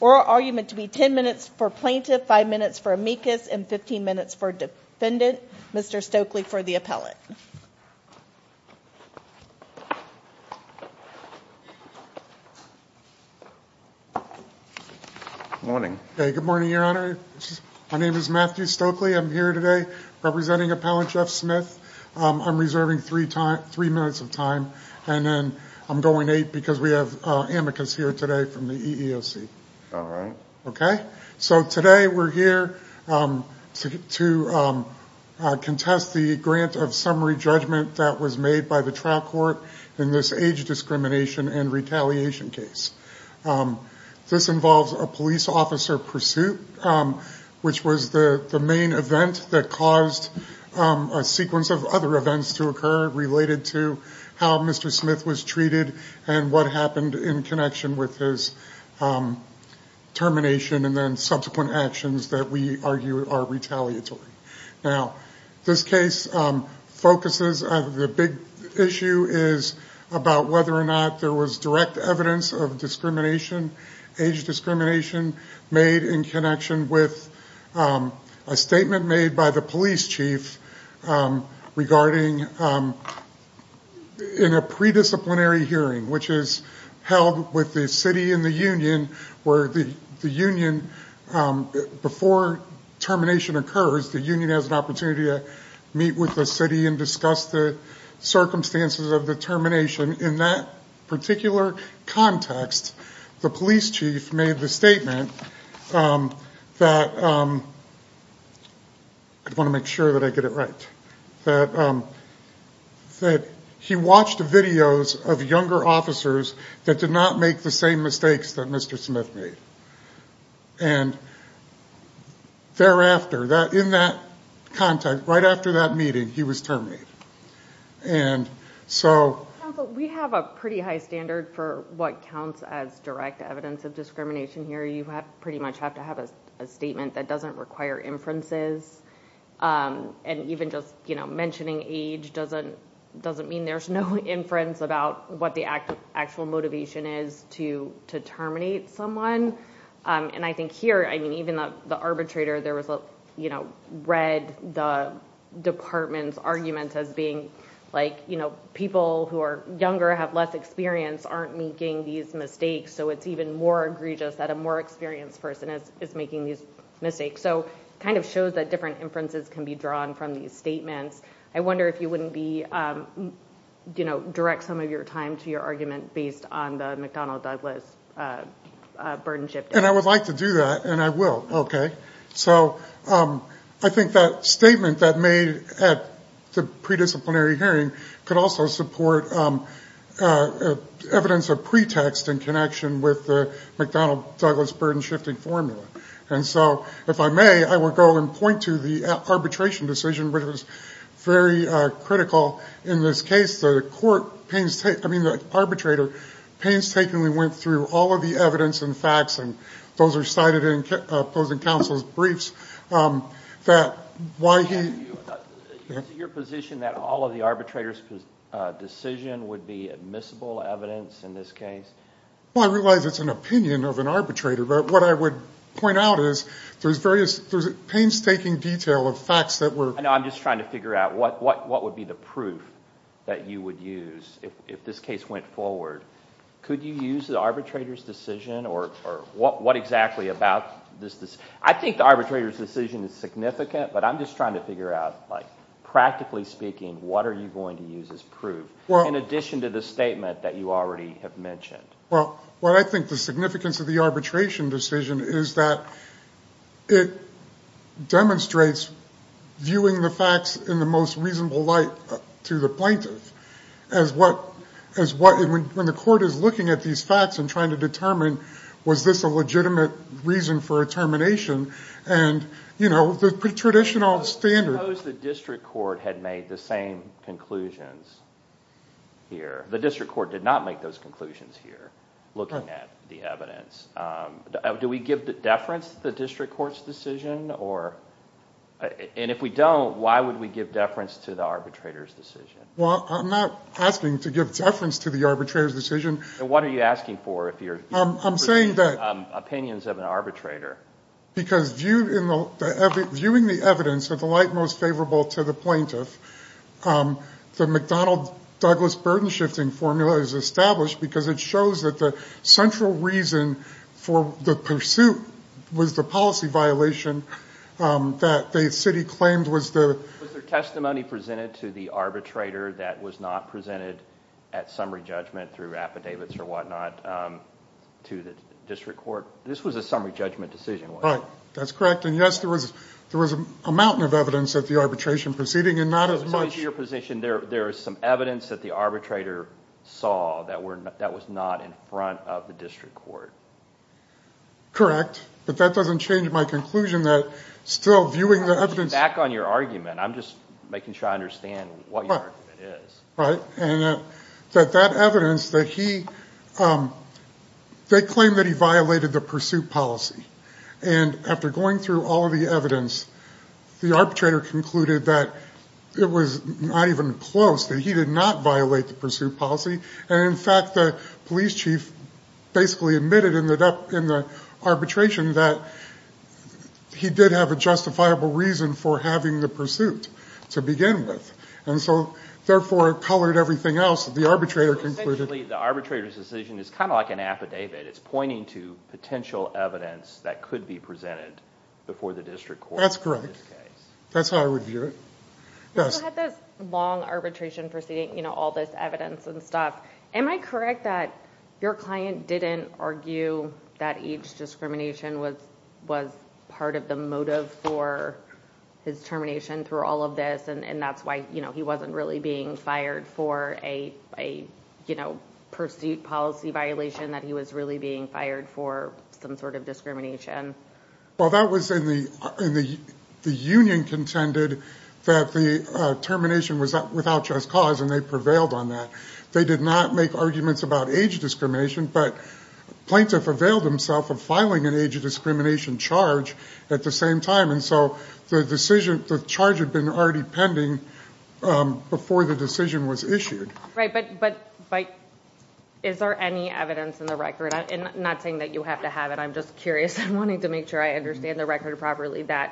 Oral argument to be 10 minutes for Plaintiff, 5 minutes for Amicus, and 15 minutes for Defendant. Mr. Stokely for the Appellate. Good morning, your honor. My name is Matthew Stokely. I'm here today representing Appellate Jeff Smith. I'm reserving 3 minutes of time. And then I'm going 8 because we have Amicus here today from the EEOC. So today we're here to contest the grant of summary judgment that was made by the trial court in this age discrimination and retaliation case. This involves a police officer pursuit which was the main event that caused a sequence of other events to occur related to how Mr. Smith was treated and what happened in connection with his termination and then subsequent actions that we argue are retaliatory. Now this case focuses on the big issue is about whether or not there was direct evidence of discrimination, age discrimination made in connection with a statement made by the police chief regarding in a pre-disciplinary hearing which is held with the city and the union where the union before termination occurs, the union has an opportunity to meet with the city and discuss the circumstances of the termination. In that particular context, the police chief made the statement that he watched videos of younger officers that did not make the same mistakes that Mr. Smith made. And thereafter, in that context, right after that meeting, he was terminated. We have a pretty high standard for what counts as direct evidence of discrimination here. You pretty much have to have a statement that doesn't require inferences. And even just mentioning age doesn't mean there's no inference about what the actual motivation is to terminate someone. And I think here, even the arbitrator read the department's argument as being like people who are younger, have less experience, aren't making these mistakes, so it's even more egregious that a more experienced person is making these mistakes. So it kind of shows that different inferences can be drawn from these statements. I wonder if you wouldn't direct some of your time to your argument based on the McDonnell-Douglas burden shifting. And I would like to do that, and I will. So I think that statement that made at the pre-disciplinary hearing could also support evidence of pretext in connection with the McDonnell-Douglas burden shifting formula. And so, if I may, I will go and point to the arbitration decision, which was very critical in this case. The arbitrator painstakingly went through all of the evidence and facts, and those are cited in opposing counsel's briefs. Is it your position that all of the arbitrator's decision would be admissible evidence in this case? Well, I realize it's an opinion of an arbitrator, but what I would point out is there's various painstaking detail of facts that were… I know. I'm just trying to figure out what would be the proof that you would use if this case went forward. Could you use the arbitrator's decision, or what exactly about this? I think the arbitrator's decision is significant, but I'm just trying to figure out, practically speaking, what are you going to use as proof in addition to the statement that you already have mentioned? Well, what I think the significance of the arbitration decision is that it demonstrates viewing the facts in the most reasonable light to the plaintiff. When the court is looking at these facts and trying to determine, was this a legitimate reason for a termination, and the traditional standard… What if the district court had made the same conclusions here? The district court did not make those conclusions here, looking at the evidence. Do we give deference to the district court's decision? And if we don't, why would we give deference to the arbitrator's decision? Well, I'm not asking to give deference to the arbitrator's decision. Then what are you asking for if you're… I'm saying that… Opinions of an arbitrator. Because viewing the evidence of the light most favorable to the plaintiff, the McDonnell-Douglas burden-shifting formula is established because it shows that the central reason for the pursuit was the policy violation that the city claimed was the… Was there testimony presented to the arbitrator that was not presented at summary judgment through affidavits or whatnot to the district court? This was a summary judgment decision, wasn't it? Right. That's correct. And yes, there was a mountain of evidence at the arbitration proceeding, and not as much… So to your position, there is some evidence that the arbitrator saw that was not in front of the district court? Correct. But that doesn't change my conclusion that still viewing the evidence… Back on your argument. I'm just making sure I understand what your argument is. Right. And that evidence that he – they claimed that he violated the pursuit policy. And after going through all of the evidence, the arbitrator concluded that it was not even close, that he did not violate the pursuit policy. And in fact, the police chief basically admitted in the arbitration that he did have a justifiable reason for having the pursuit to begin with. And so therefore, it colored everything else. The arbitrator concluded… So essentially, the arbitrator's decision is kind of like an affidavit. It's pointing to potential evidence that could be presented before the district court in this case. That's correct. That's how I would view it. You had this long arbitration proceeding, you know, all this evidence and stuff. Am I correct that your client didn't argue that each discrimination was part of the motive for his termination through all of this? And that's why he wasn't really being fired for a pursuit policy violation, that he was really being fired for some sort of discrimination? Well, that was in the – the union contended that the termination was without just cause, and they prevailed on that. They did not make arguments about age discrimination, but plaintiff availed himself of filing an age discrimination charge at the same time. And so the decision – the charge had been already pending before the decision was issued. Right, but is there any evidence in the record – and I'm not saying that you have to have it, I'm just curious. I'm wanting to make sure I understand the record properly that,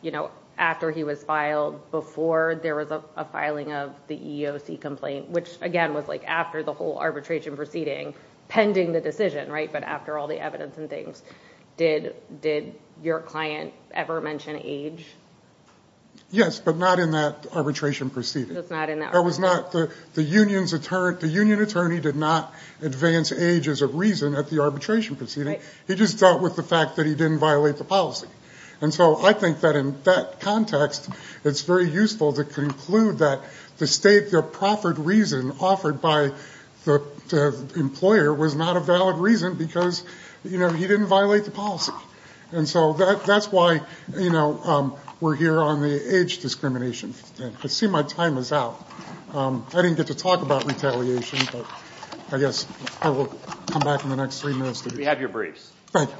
you know, after he was filed, before there was a filing of the EEOC complaint, which, again, was like after the whole arbitration proceeding, pending the decision, right? But after all the evidence and things, did your client ever mention age? Yes, but not in that arbitration proceeding. That was not – the union's – the union attorney did not advance age as a reason at the arbitration proceeding. He just dealt with the fact that he didn't violate the policy. And so I think that in that context, it's very useful to conclude that the state – the proffered reason offered by the employer was not a valid reason, because, you know, he didn't violate the policy. And so that's why, you know, we're here on the age discrimination. I see my time is out. I didn't get to talk about retaliation, but I guess I will come back in the next three minutes to do that. We have your briefs. Thank you.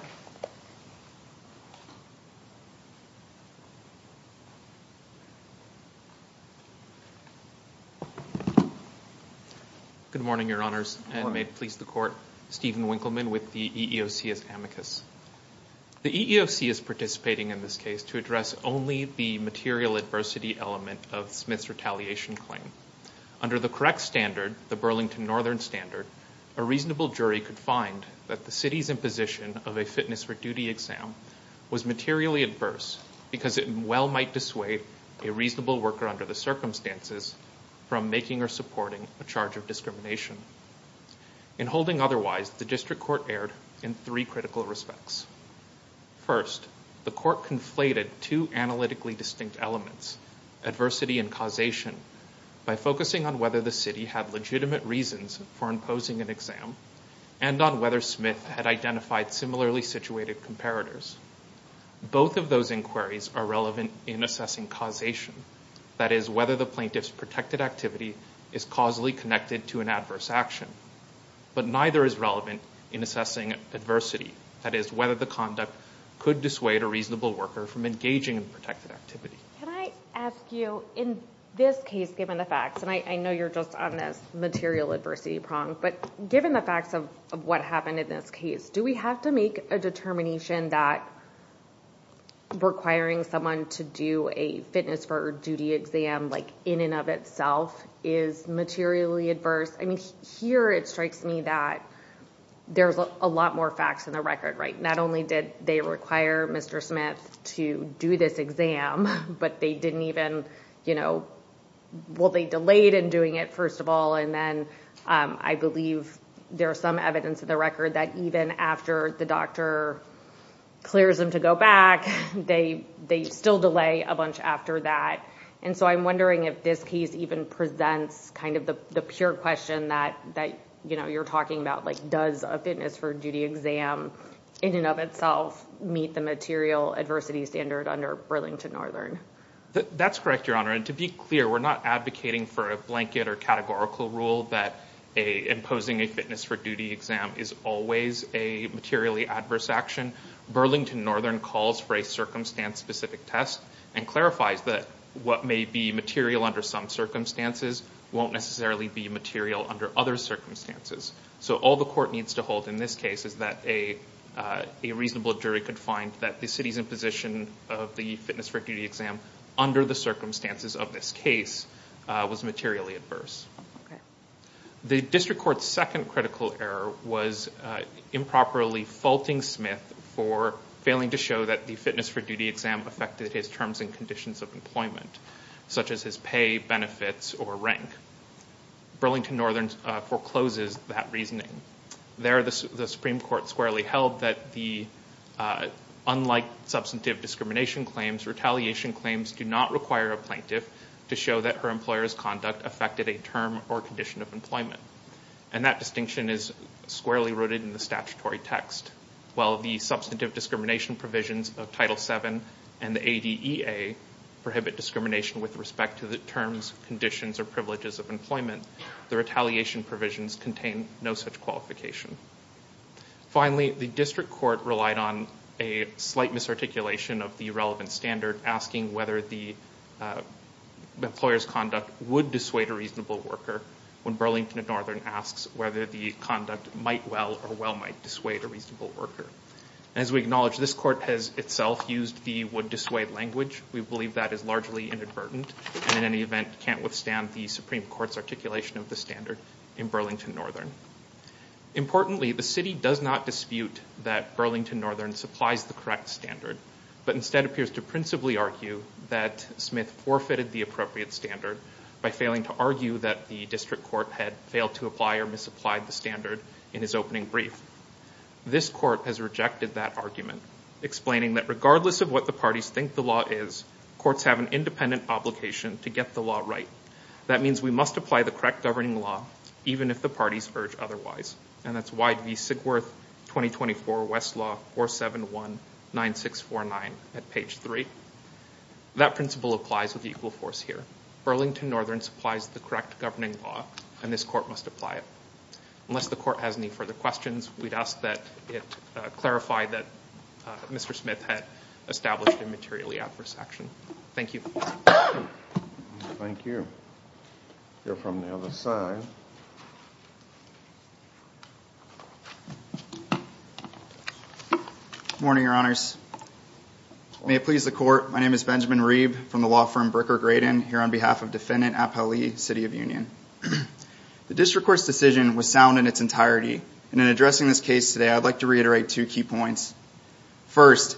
Good morning, Your Honors, and may it please the Court. Stephen Winkleman with the EEOC as amicus. The EEOC is participating in this case to address only the material adversity element of Smith's retaliation claim. Under the correct standard, the Burlington Northern Standard, a reasonable jury could find that the city's imposition of a fitness for duty exam was materially adverse because it well might dissuade a reasonable worker under the circumstances from making or supporting a charge of discrimination. In holding otherwise, the district court erred in three critical respects. First, the court conflated two analytically distinct elements, adversity and causation, by focusing on whether the city had legitimate reasons for imposing an exam and on whether Smith had identified similarly situated comparators. Both of those inquiries are relevant in assessing causation, that is, whether the plaintiff's protected activity is causally connected to an adverse action. But neither is relevant in assessing adversity, that is, whether the conduct could dissuade a reasonable worker from engaging in protected activity. Can I ask you, in this case, given the facts, and I know you're just on this material adversity prong, but given the facts of what happened in this case, do we have to make a determination that requiring someone to do a fitness for duty exam, like in and of itself, is materially adverse? I mean, here it strikes me that there's a lot more facts in the record, right? Not only did they require Mr. Smith to do this exam, but they didn't even, you know, well, they delayed in doing it, first of all, and then I believe there's some evidence in the record that even after the doctor clears him to go back, they still delay a bunch after that. And so I'm wondering if this case even presents kind of the pure question that, you know, you're talking about, like does a fitness for duty exam, in and of itself, meet the material adversity standard under Burlington Northern? That's correct, Your Honor, and to be clear, we're not advocating for a blanket or categorical rule that imposing a fitness for duty exam is always a materially adverse action. Burlington Northern calls for a circumstance-specific test and clarifies that what may be material under some circumstances won't necessarily be material under other circumstances. So all the court needs to hold in this case is that a reasonable jury could find that the city's imposition of the fitness for duty exam under the circumstances of this case was materially adverse. The district court's second critical error was improperly faulting Smith for failing to show that the fitness for duty exam affected his terms and conditions of employment, such as his pay, benefits, or rank. Burlington Northern forecloses that reasoning. There, the Supreme Court squarely held that unlike substantive discrimination claims, retaliation claims do not require a plaintiff to show that her employer's conduct affected a term or condition of employment, and that distinction is squarely rooted in the statutory text. While the substantive discrimination provisions of Title VII and the ADEA prohibit discrimination with respect to the terms, conditions, or privileges of employment, the retaliation provisions contain no such qualification. Finally, the district court relied on a slight misarticulation of the relevant standard, asking whether the employer's conduct would dissuade a reasonable worker when Burlington Northern asks whether the conduct might well or well might dissuade a reasonable worker. As we acknowledge, this court has itself used the would dissuade language. We believe that is largely inadvertent and, in any event, can't withstand the Supreme Court's articulation of the standard in Burlington Northern. Importantly, the city does not dispute that Burlington Northern supplies the correct standard, but instead appears to principally argue that Smith forfeited the appropriate standard by failing to argue that the district court had failed to apply or misapplied the standard in his opening brief. This court has rejected that argument, explaining that regardless of what the parties think the law is, courts have an independent obligation to get the law right. That means we must apply the correct governing law, even if the parties urge otherwise. And that's YV Sigworth 2024 West Law 4719649 at page 3. That principle applies with equal force here. Burlington Northern supplies the correct governing law, and this court must apply it. Unless the court has any further questions, we'd ask that it clarify that Mr. Smith had established a materially adverse action. Thank you. Thank you. We'll hear from the other side. Good morning, Your Honors. May it please the court, my name is Benjamin Reeb from the law firm Bricker-Gradin, here on behalf of Defendant Appali, City of Union. The district court's decision was sound in its entirety, and in addressing this case today, I'd like to reiterate two key points. First,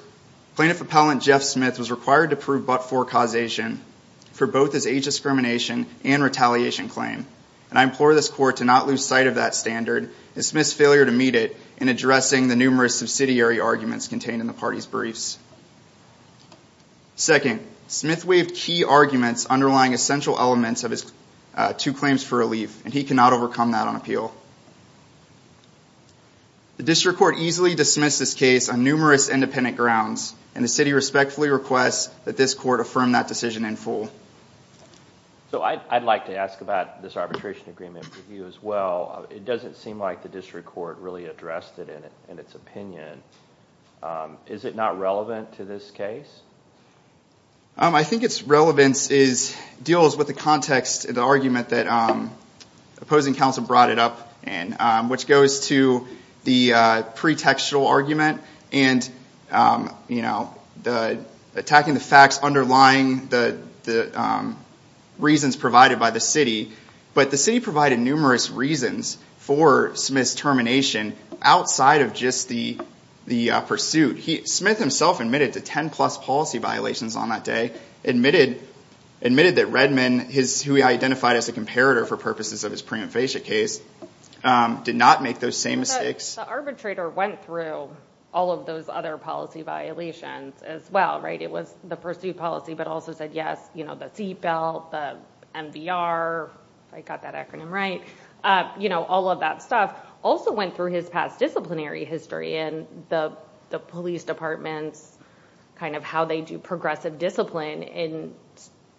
Plaintiff Appellant Jeff Smith was required to prove but-for causation for both his age discrimination and retaliation claim, and I implore this court to not lose sight of that standard and Smith's failure to meet it in addressing the numerous subsidiary arguments contained in the party's briefs. Second, Smith waived key arguments underlying essential elements of his two claims for relief, and he cannot overcome that on appeal. The district court easily dismissed this case on numerous independent grounds, and the city respectfully requests that this court affirm that decision in full. So I'd like to ask about this arbitration agreement review as well. It doesn't seem like the district court really addressed it in its opinion. Is it not relevant to this case? I think its relevance deals with the context of the argument that opposing counsel brought it up in, which goes to the pretextual argument and attacking the facts underlying the reasons provided by the city, but the city provided numerous reasons for Smith's termination outside of just the pursuit. Smith himself admitted to 10-plus policy violations on that day, admitted that Redman, who he identified as a comparator for purposes of his prima facie case, did not make those same mistakes. The arbitrator went through all of those other policy violations as well, right? It was the pursuit policy but also said yes, you know, the seatbelt, the MBR, if I got that acronym right, you know, all of that stuff. Also went through his past disciplinary history and the police department's kind of how they do progressive discipline and,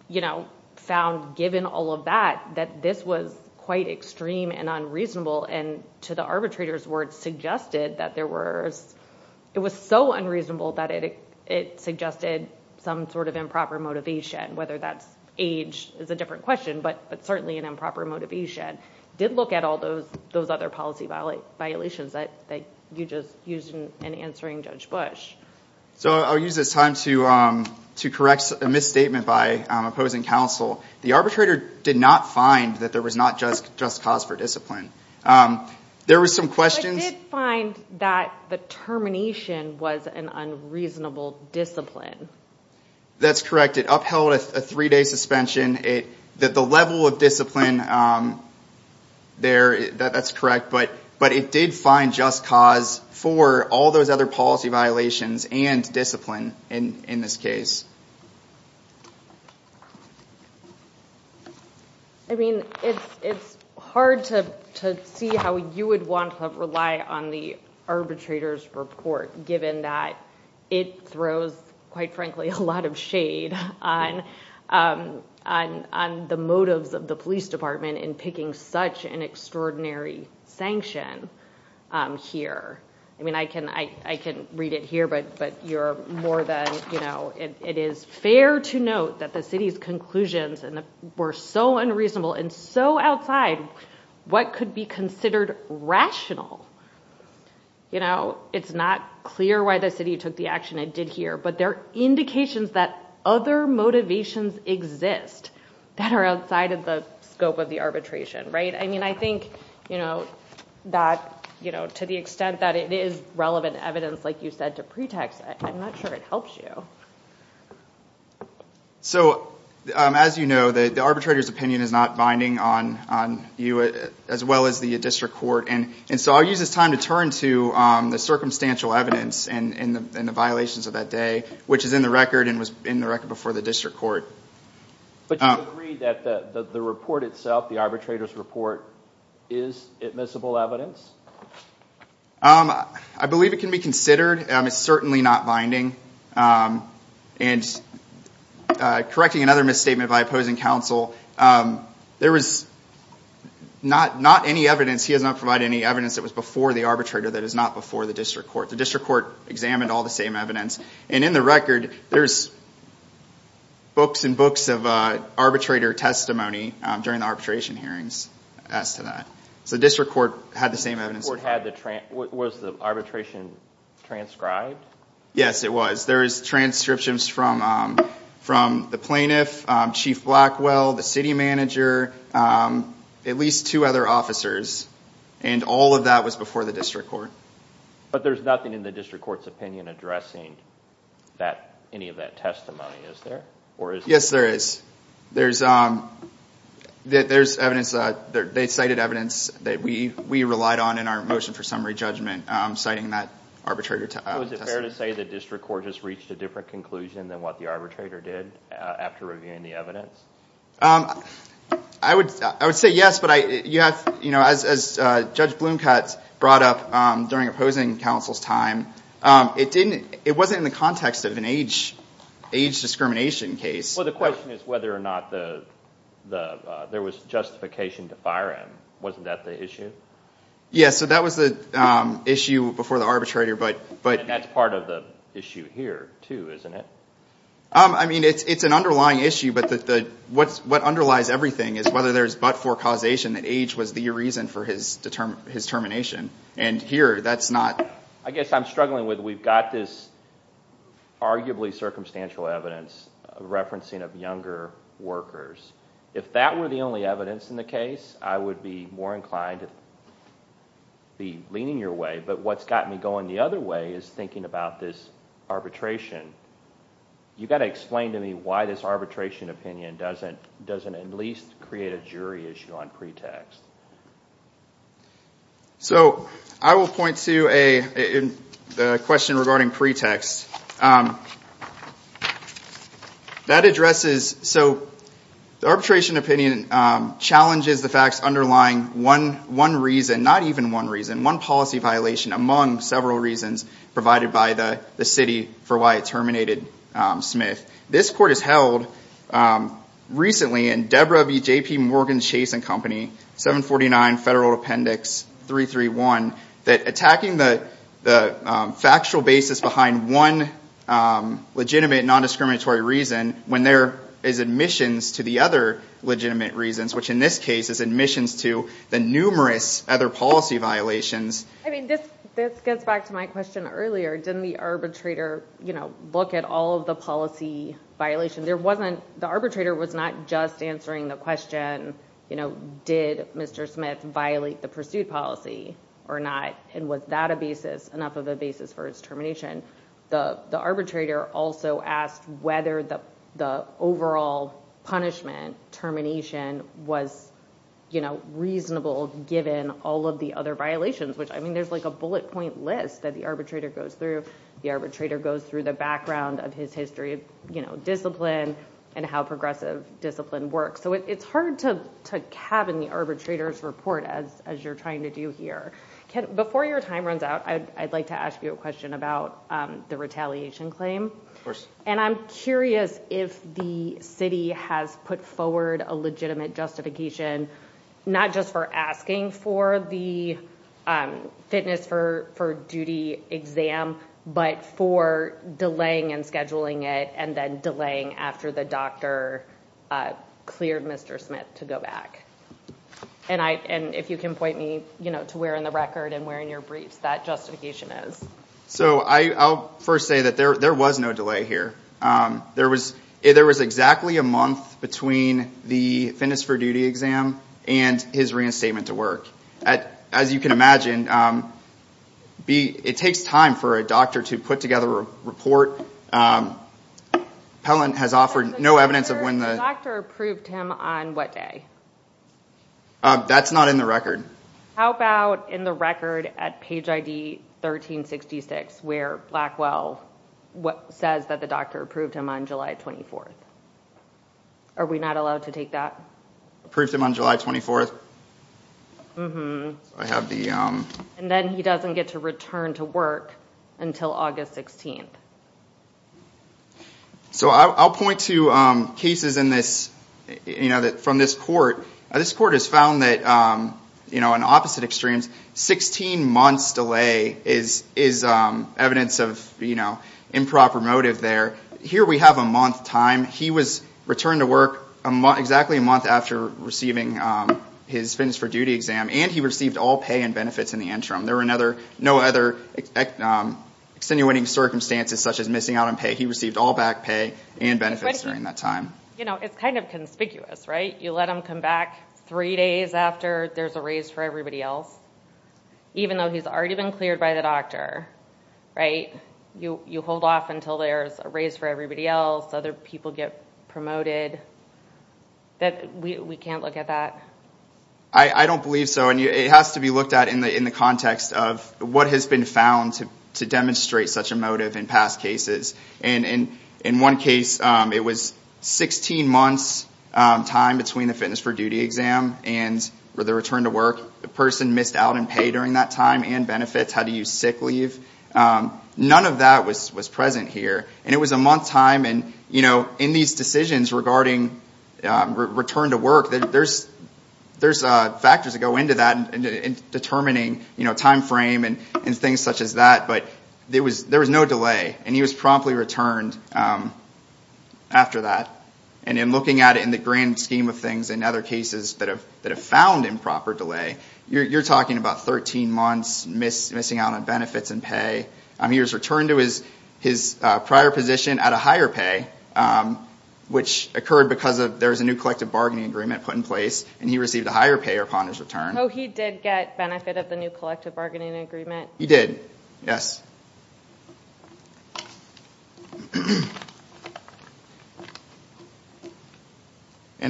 you know, found given all of that that this was quite extreme and unreasonable and to the arbitrator's words suggested that there was, it was so unreasonable that it suggested some sort of improper motivation, whether that's age is a different question, but certainly an improper motivation. Did look at all those other policy violations that you just used in answering Judge Bush. So I'll use this time to correct a misstatement by opposing counsel. The arbitrator did not find that there was not just cause for discipline. There were some questions. But did find that the termination was an unreasonable discipline. That's correct. It upheld a three-day suspension. The level of discipline there, that's correct. But it did find just cause for all those other policy violations and discipline in this case. I mean, it's hard to see how you would want to rely on the arbitrator's report, given that it throws, quite frankly, a lot of shade on the motives of the police department in picking such an extraordinary sanction here. I mean, I can read it here, but you're more than, you know, it is fair to note that the city's conclusions were so unreasonable and so outside what could be considered rational. You know, it's not clear why the city took the action it did here, but there are indications that other motivations exist that are outside of the scope of the arbitration. Right? I mean, I think that to the extent that it is relevant evidence, like you said, to pretext, I'm not sure it helps you. So as you know, the arbitrator's opinion is not binding on you as well as the district court. And so I'll use this time to turn to the circumstantial evidence and the violations of that day, which is in the record and was in the record before the district court. But you agree that the report itself, the arbitrator's report, is admissible evidence? I believe it can be considered. It's certainly not binding. And correcting another misstatement by opposing counsel, there was not any evidence, he has not provided any evidence that was before the arbitrator that is not before the district court. The district court examined all the same evidence. And in the record, there's books and books of arbitrator testimony during the arbitration hearings as to that. So the district court had the same evidence. Was the arbitration transcribed? Yes, it was. There's transcriptions from the plaintiff, Chief Blackwell, the city manager, at least two other officers, and all of that was before the district court. But there's nothing in the district court's opinion addressing any of that testimony, is there? Yes, there is. They cited evidence that we relied on in our motion for summary judgment citing that arbitrator testimony. So is it fair to say the district court has reached a different conclusion than what the arbitrator did after reviewing the evidence? I would say yes, but as Judge Bloomcutt brought up during opposing counsel's time, it wasn't in the context of an age discrimination case. Well, the question is whether or not there was justification to fire him. Wasn't that the issue? Yes, so that was the issue before the arbitrator. And that's part of the issue here, too, isn't it? I mean, it's an underlying issue, but what underlies everything is whether there's but-for causation, that age was the reason for his termination, and here that's not. I guess I'm struggling with we've got this arguably circumstantial evidence referencing of younger workers. If that were the only evidence in the case, I would be more inclined to be leaning your way, but what's got me going the other way is thinking about this arbitration. You've got to explain to me why this arbitration opinion doesn't at least create a jury issue on pretext. So I will point to a question regarding pretext. So the arbitration opinion challenges the facts underlying one reason, not even one reason, one policy violation among several reasons provided by the city for why it terminated Smith. This court has held recently in Deborah B. J.P. Morgan's Chase & Company, 749 Federal Appendix 331, that attacking the factual basis behind one legitimate non-discriminatory reason when there is admissions to the other legitimate reasons, which in this case is admissions to the numerous other policy violations. I mean, this gets back to my question earlier. Didn't the arbitrator look at all of the policy violations? The arbitrator was not just answering the question, did Mr. Smith violate the pursuit policy or not, and was that enough of a basis for his termination? The arbitrator also asked whether the overall punishment termination was reasonable given all of the other violations, which I mean there's like a bullet point list that the arbitrator goes through. The arbitrator goes through the background of his history of discipline and how progressive discipline works. So it's hard to have in the arbitrator's report as you're trying to do here. Before your time runs out, I'd like to ask you a question about the retaliation claim. And I'm curious if the city has put forward a legitimate justification, not just for asking for the fitness for duty exam, but for delaying and scheduling it, and then delaying after the doctor cleared Mr. Smith to go back. And if you can point me to where in the record and where in your briefs that justification is. So I'll first say that there was no delay here. There was exactly a month between the fitness for duty exam and his reinstatement to work. As you can imagine, it takes time for a doctor to put together a report. The doctor approved him on what day? That's not in the record. How about in the record at page ID 1366, where Blackwell says that the doctor approved him on July 24th? Are we not allowed to take that? Approved him on July 24th? And then he doesn't get to return to work until August 16th. So I'll point to cases from this court. This court has found that in opposite extremes, 16 months delay is evidence of improper motive there. Here we have a month time. He was returned to work exactly a month after receiving his fitness for duty exam, and he received all pay and benefits in the interim. There were no other extenuating circumstances such as missing out on pay. He received all back pay and benefits during that time. It's kind of conspicuous, right? You let him come back three days after there's a raise for everybody else, even though he's already been cleared by the doctor, right? You hold off until there's a raise for everybody else, other people get promoted. We can't look at that? I don't believe so. It has to be looked at in the context of what has been found to demonstrate such a motive in past cases. In one case, it was 16 months time between the fitness for duty exam and the return to work. The person missed out on pay during that time and benefits, had to use sick leave. None of that was present here. It was a month time, and in these decisions regarding return to work, there's factors that go into that in determining time frame and things such as that. There was no delay, and he was promptly returned after that. In looking at it in the grand scheme of things, in other cases that have found improper delay, you're talking about 13 months missing out on benefits and pay. He was returned to his prior position at a higher pay, which occurred because there was a new collective bargaining agreement put in place, and he received a higher pay upon his return. He did get benefit of the new collective bargaining agreement? He did, yes.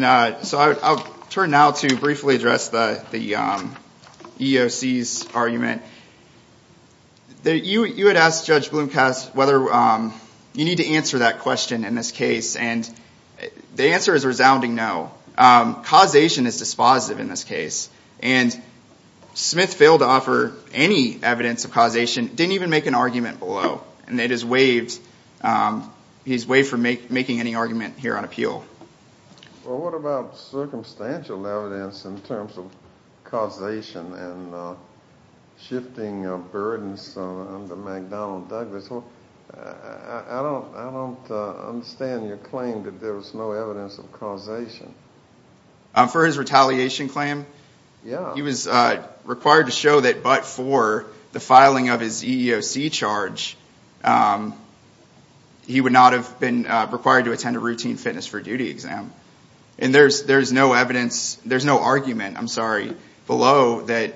I'll turn now to briefly address the EEOC's argument. You had asked Judge Blomkast whether you need to answer that question in this case, and the answer is a resounding no. Causation is dispositive in this case, and Smith failed to offer any evidence of causation, didn't even make an argument below, and he's waived from making any argument here on appeal. Well, what about circumstantial evidence in terms of causation and shifting of burdens under McDonnell Douglas? I don't understand your claim that there was no evidence of causation. For his retaliation claim? Yes. He was required to show that but for the filing of his EEOC charge, he would not have been required to attend a routine fitness for duty exam, and there's no argument below that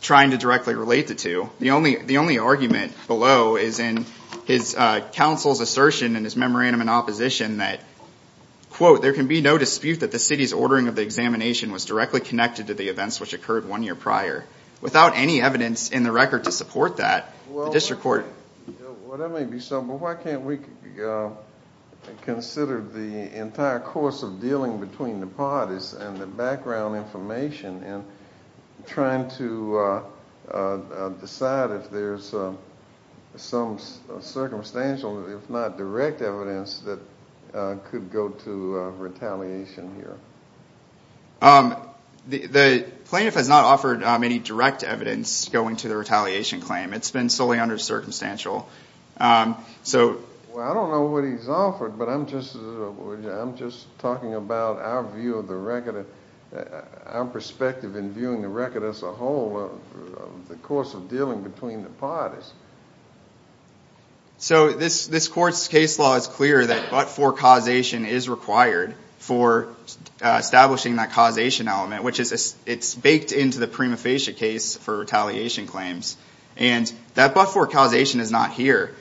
trying to directly relate the two. The only argument below is in his counsel's assertion in his memorandum in opposition that, there can be no dispute that the city's ordering of the examination was directly connected to the events which occurred one year prior. Without any evidence in the record to support that, the district court. Well, that may be so, but why can't we consider the entire course of dealing between the parties and the background information in trying to decide if there's some circumstantial, if not direct evidence that could go to retaliation here? The plaintiff has not offered any direct evidence going to the retaliation claim. It's been solely under circumstantial. I don't know what he's offered, but I'm just talking about our view of the record, our perspective in viewing the record as a whole of the course of dealing between the parties. So this court's case law is clear that but for causation is required for establishing that causation element, which is it's baked into the prima facie case for retaliation claims, and that but for causation is not here.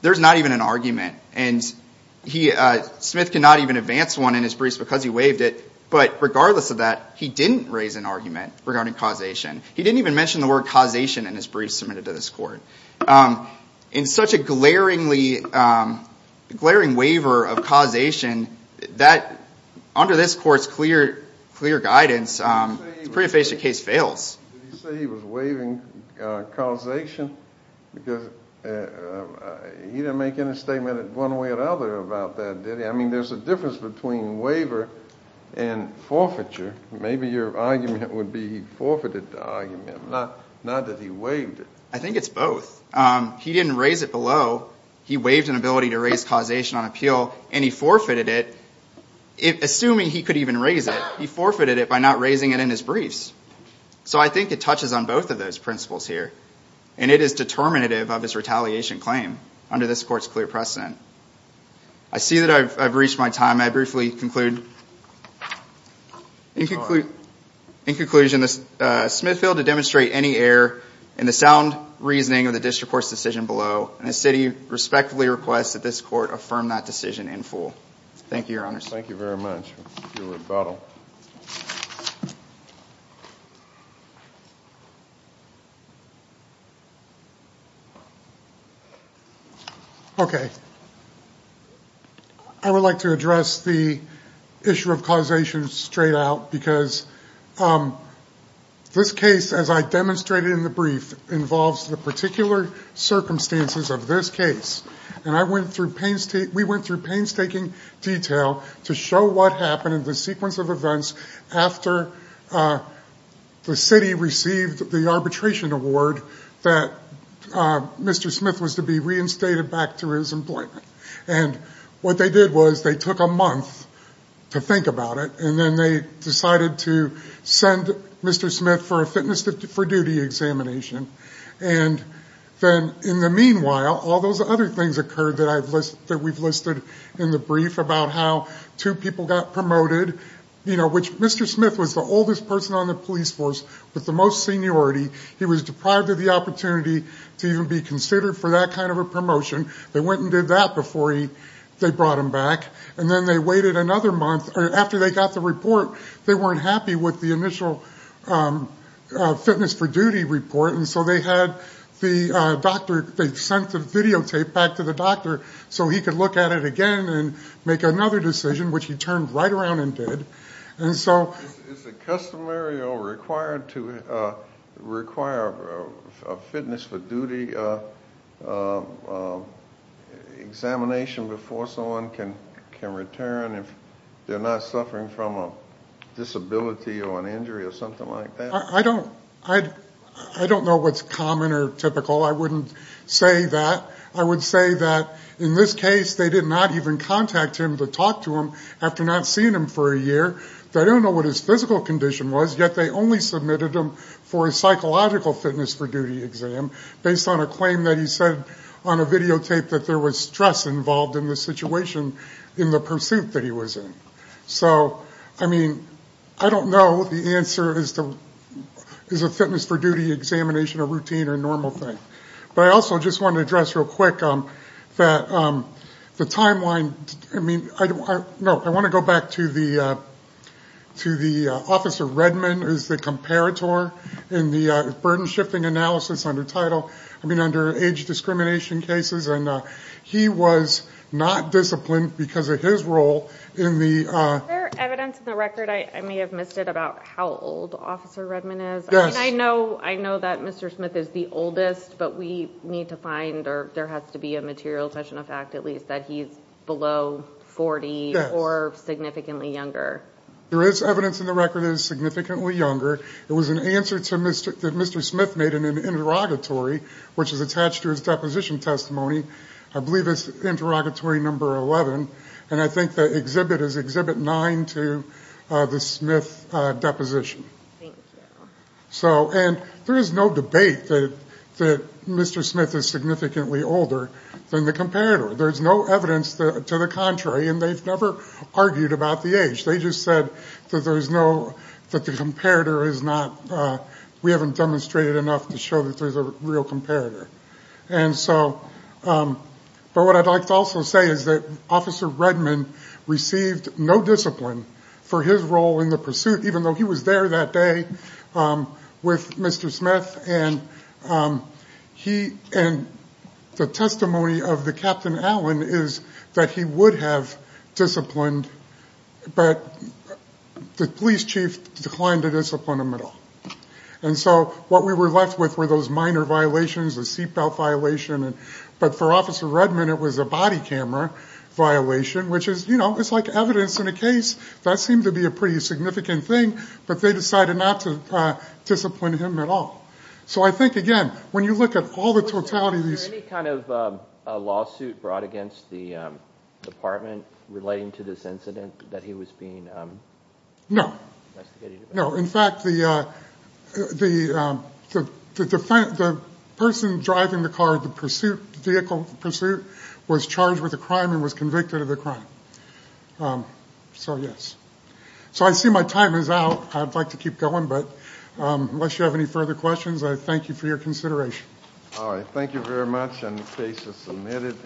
There's not even an argument, and Smith cannot even advance one in his briefs because he waived it, but regardless of that, he didn't raise an argument regarding causation. He didn't even mention the word causation in his briefs submitted to this court. In such a glaring waiver of causation, under this court's clear guidance, the prima facie case fails. Did he say he was waiving causation? Because he didn't make any statement in one way or another about that, did he? I mean, there's a difference between waiver and forfeiture. Maybe your argument would be he forfeited the argument, not that he waived it. I think it's both. He didn't raise it below. He waived an ability to raise causation on appeal, and he forfeited it. Assuming he could even raise it, he forfeited it by not raising it in his briefs. So I think it touches on both of those principles here, and it is determinative of his retaliation claim under this court's clear precedent. I see that I've reached my time. I briefly conclude in conclusion that Smith failed to demonstrate any error in the sound reasoning of the district court's decision below, and the city respectfully requests that this court affirm that decision in full. Thank you, Your Honor. Thank you very much for your rebuttal. Okay. I would like to address the issue of causation straight out, because this case, as I demonstrated in the brief, involves the particular circumstances of this case, and we went through painstaking detail to show what happened in the sequence of events after the city received the arbitration award that Mr. Smith was to be reinstated back to his employment. And what they did was they took a month to think about it, and then they decided to send Mr. Smith for a fitness for duty examination. And then in the meanwhile, all those other things occurred that we've listed in the brief about how two people got promoted, which Mr. Smith was the oldest person on the police force with the most seniority. He was deprived of the opportunity to even be considered for that kind of a promotion. They went and did that before they brought him back. And then they waited another month. After they got the report, they weren't happy with the initial fitness for duty report, and so they sent the videotape back to the doctor so he could look at it again and make another decision, which he turned right around and did. And so... Is it customary or required to require a fitness for duty examination before someone can return if they're not suffering from a disability or an injury or something like that? I don't know what's common or typical. I wouldn't say that. I would say that in this case, they did not even contact him to talk to him after not seeing him for a year. They don't know what his physical condition was, yet they only submitted him for a psychological fitness for duty exam based on a claim that he said on a videotape that there was stress involved in the situation in the pursuit that he was in. So, I mean, I don't know if the answer is a fitness for duty examination, a routine, or a normal thing. But I also just want to address real quick that the timeline, I mean, I want to go back to the Officer Redman, who's the comparator in the burden-shifting analysis under title, I mean, under age discrimination cases, and he was not disciplined because of his role in the... Is there evidence in the record, I may have missed it, about how old Officer Redman is? Yes. I mean, I know that Mr. Smith is the oldest, but we need to find, or there has to be a material touch-and-effect at least, that he's below 40 or significantly younger. There is evidence in the record that he's significantly younger. It was an answer that Mr. Smith made in an interrogatory, which is attached to his deposition testimony. I believe it's interrogatory number 11, and I think the exhibit is exhibit 9 to the Smith deposition. Thank you. So, and there is no debate that Mr. Smith is significantly older than the comparator. There's no evidence to the contrary, and they've never argued about the age. They just said that there's no, that the comparator is not, we haven't demonstrated enough to show that there's a real comparator. And so, but what I'd like to also say is that Officer Redman received no discipline for his role in the pursuit, even though he was there that day with Mr. Smith. And he, and the testimony of the Captain Allen is that he would have disciplined, but the police chief declined to discipline him at all. And so what we were left with were those minor violations, the seatbelt violation, but for Officer Redman it was a body camera violation, which is, you know, it's like evidence in a case. That seemed to be a pretty significant thing, but they decided not to discipline him at all. So I think, again, when you look at all the totality of these. Was there any kind of lawsuit brought against the department relating to this incident that he was being investigated about? No. No. In fact, the person driving the car, the pursuit, vehicle pursuit, was charged with a crime and was convicted of the crime. So, yes. So I see my time is out. I'd like to keep going, but unless you have any further questions, I thank you for your consideration. All right. Thank you very much. And the case is submitted.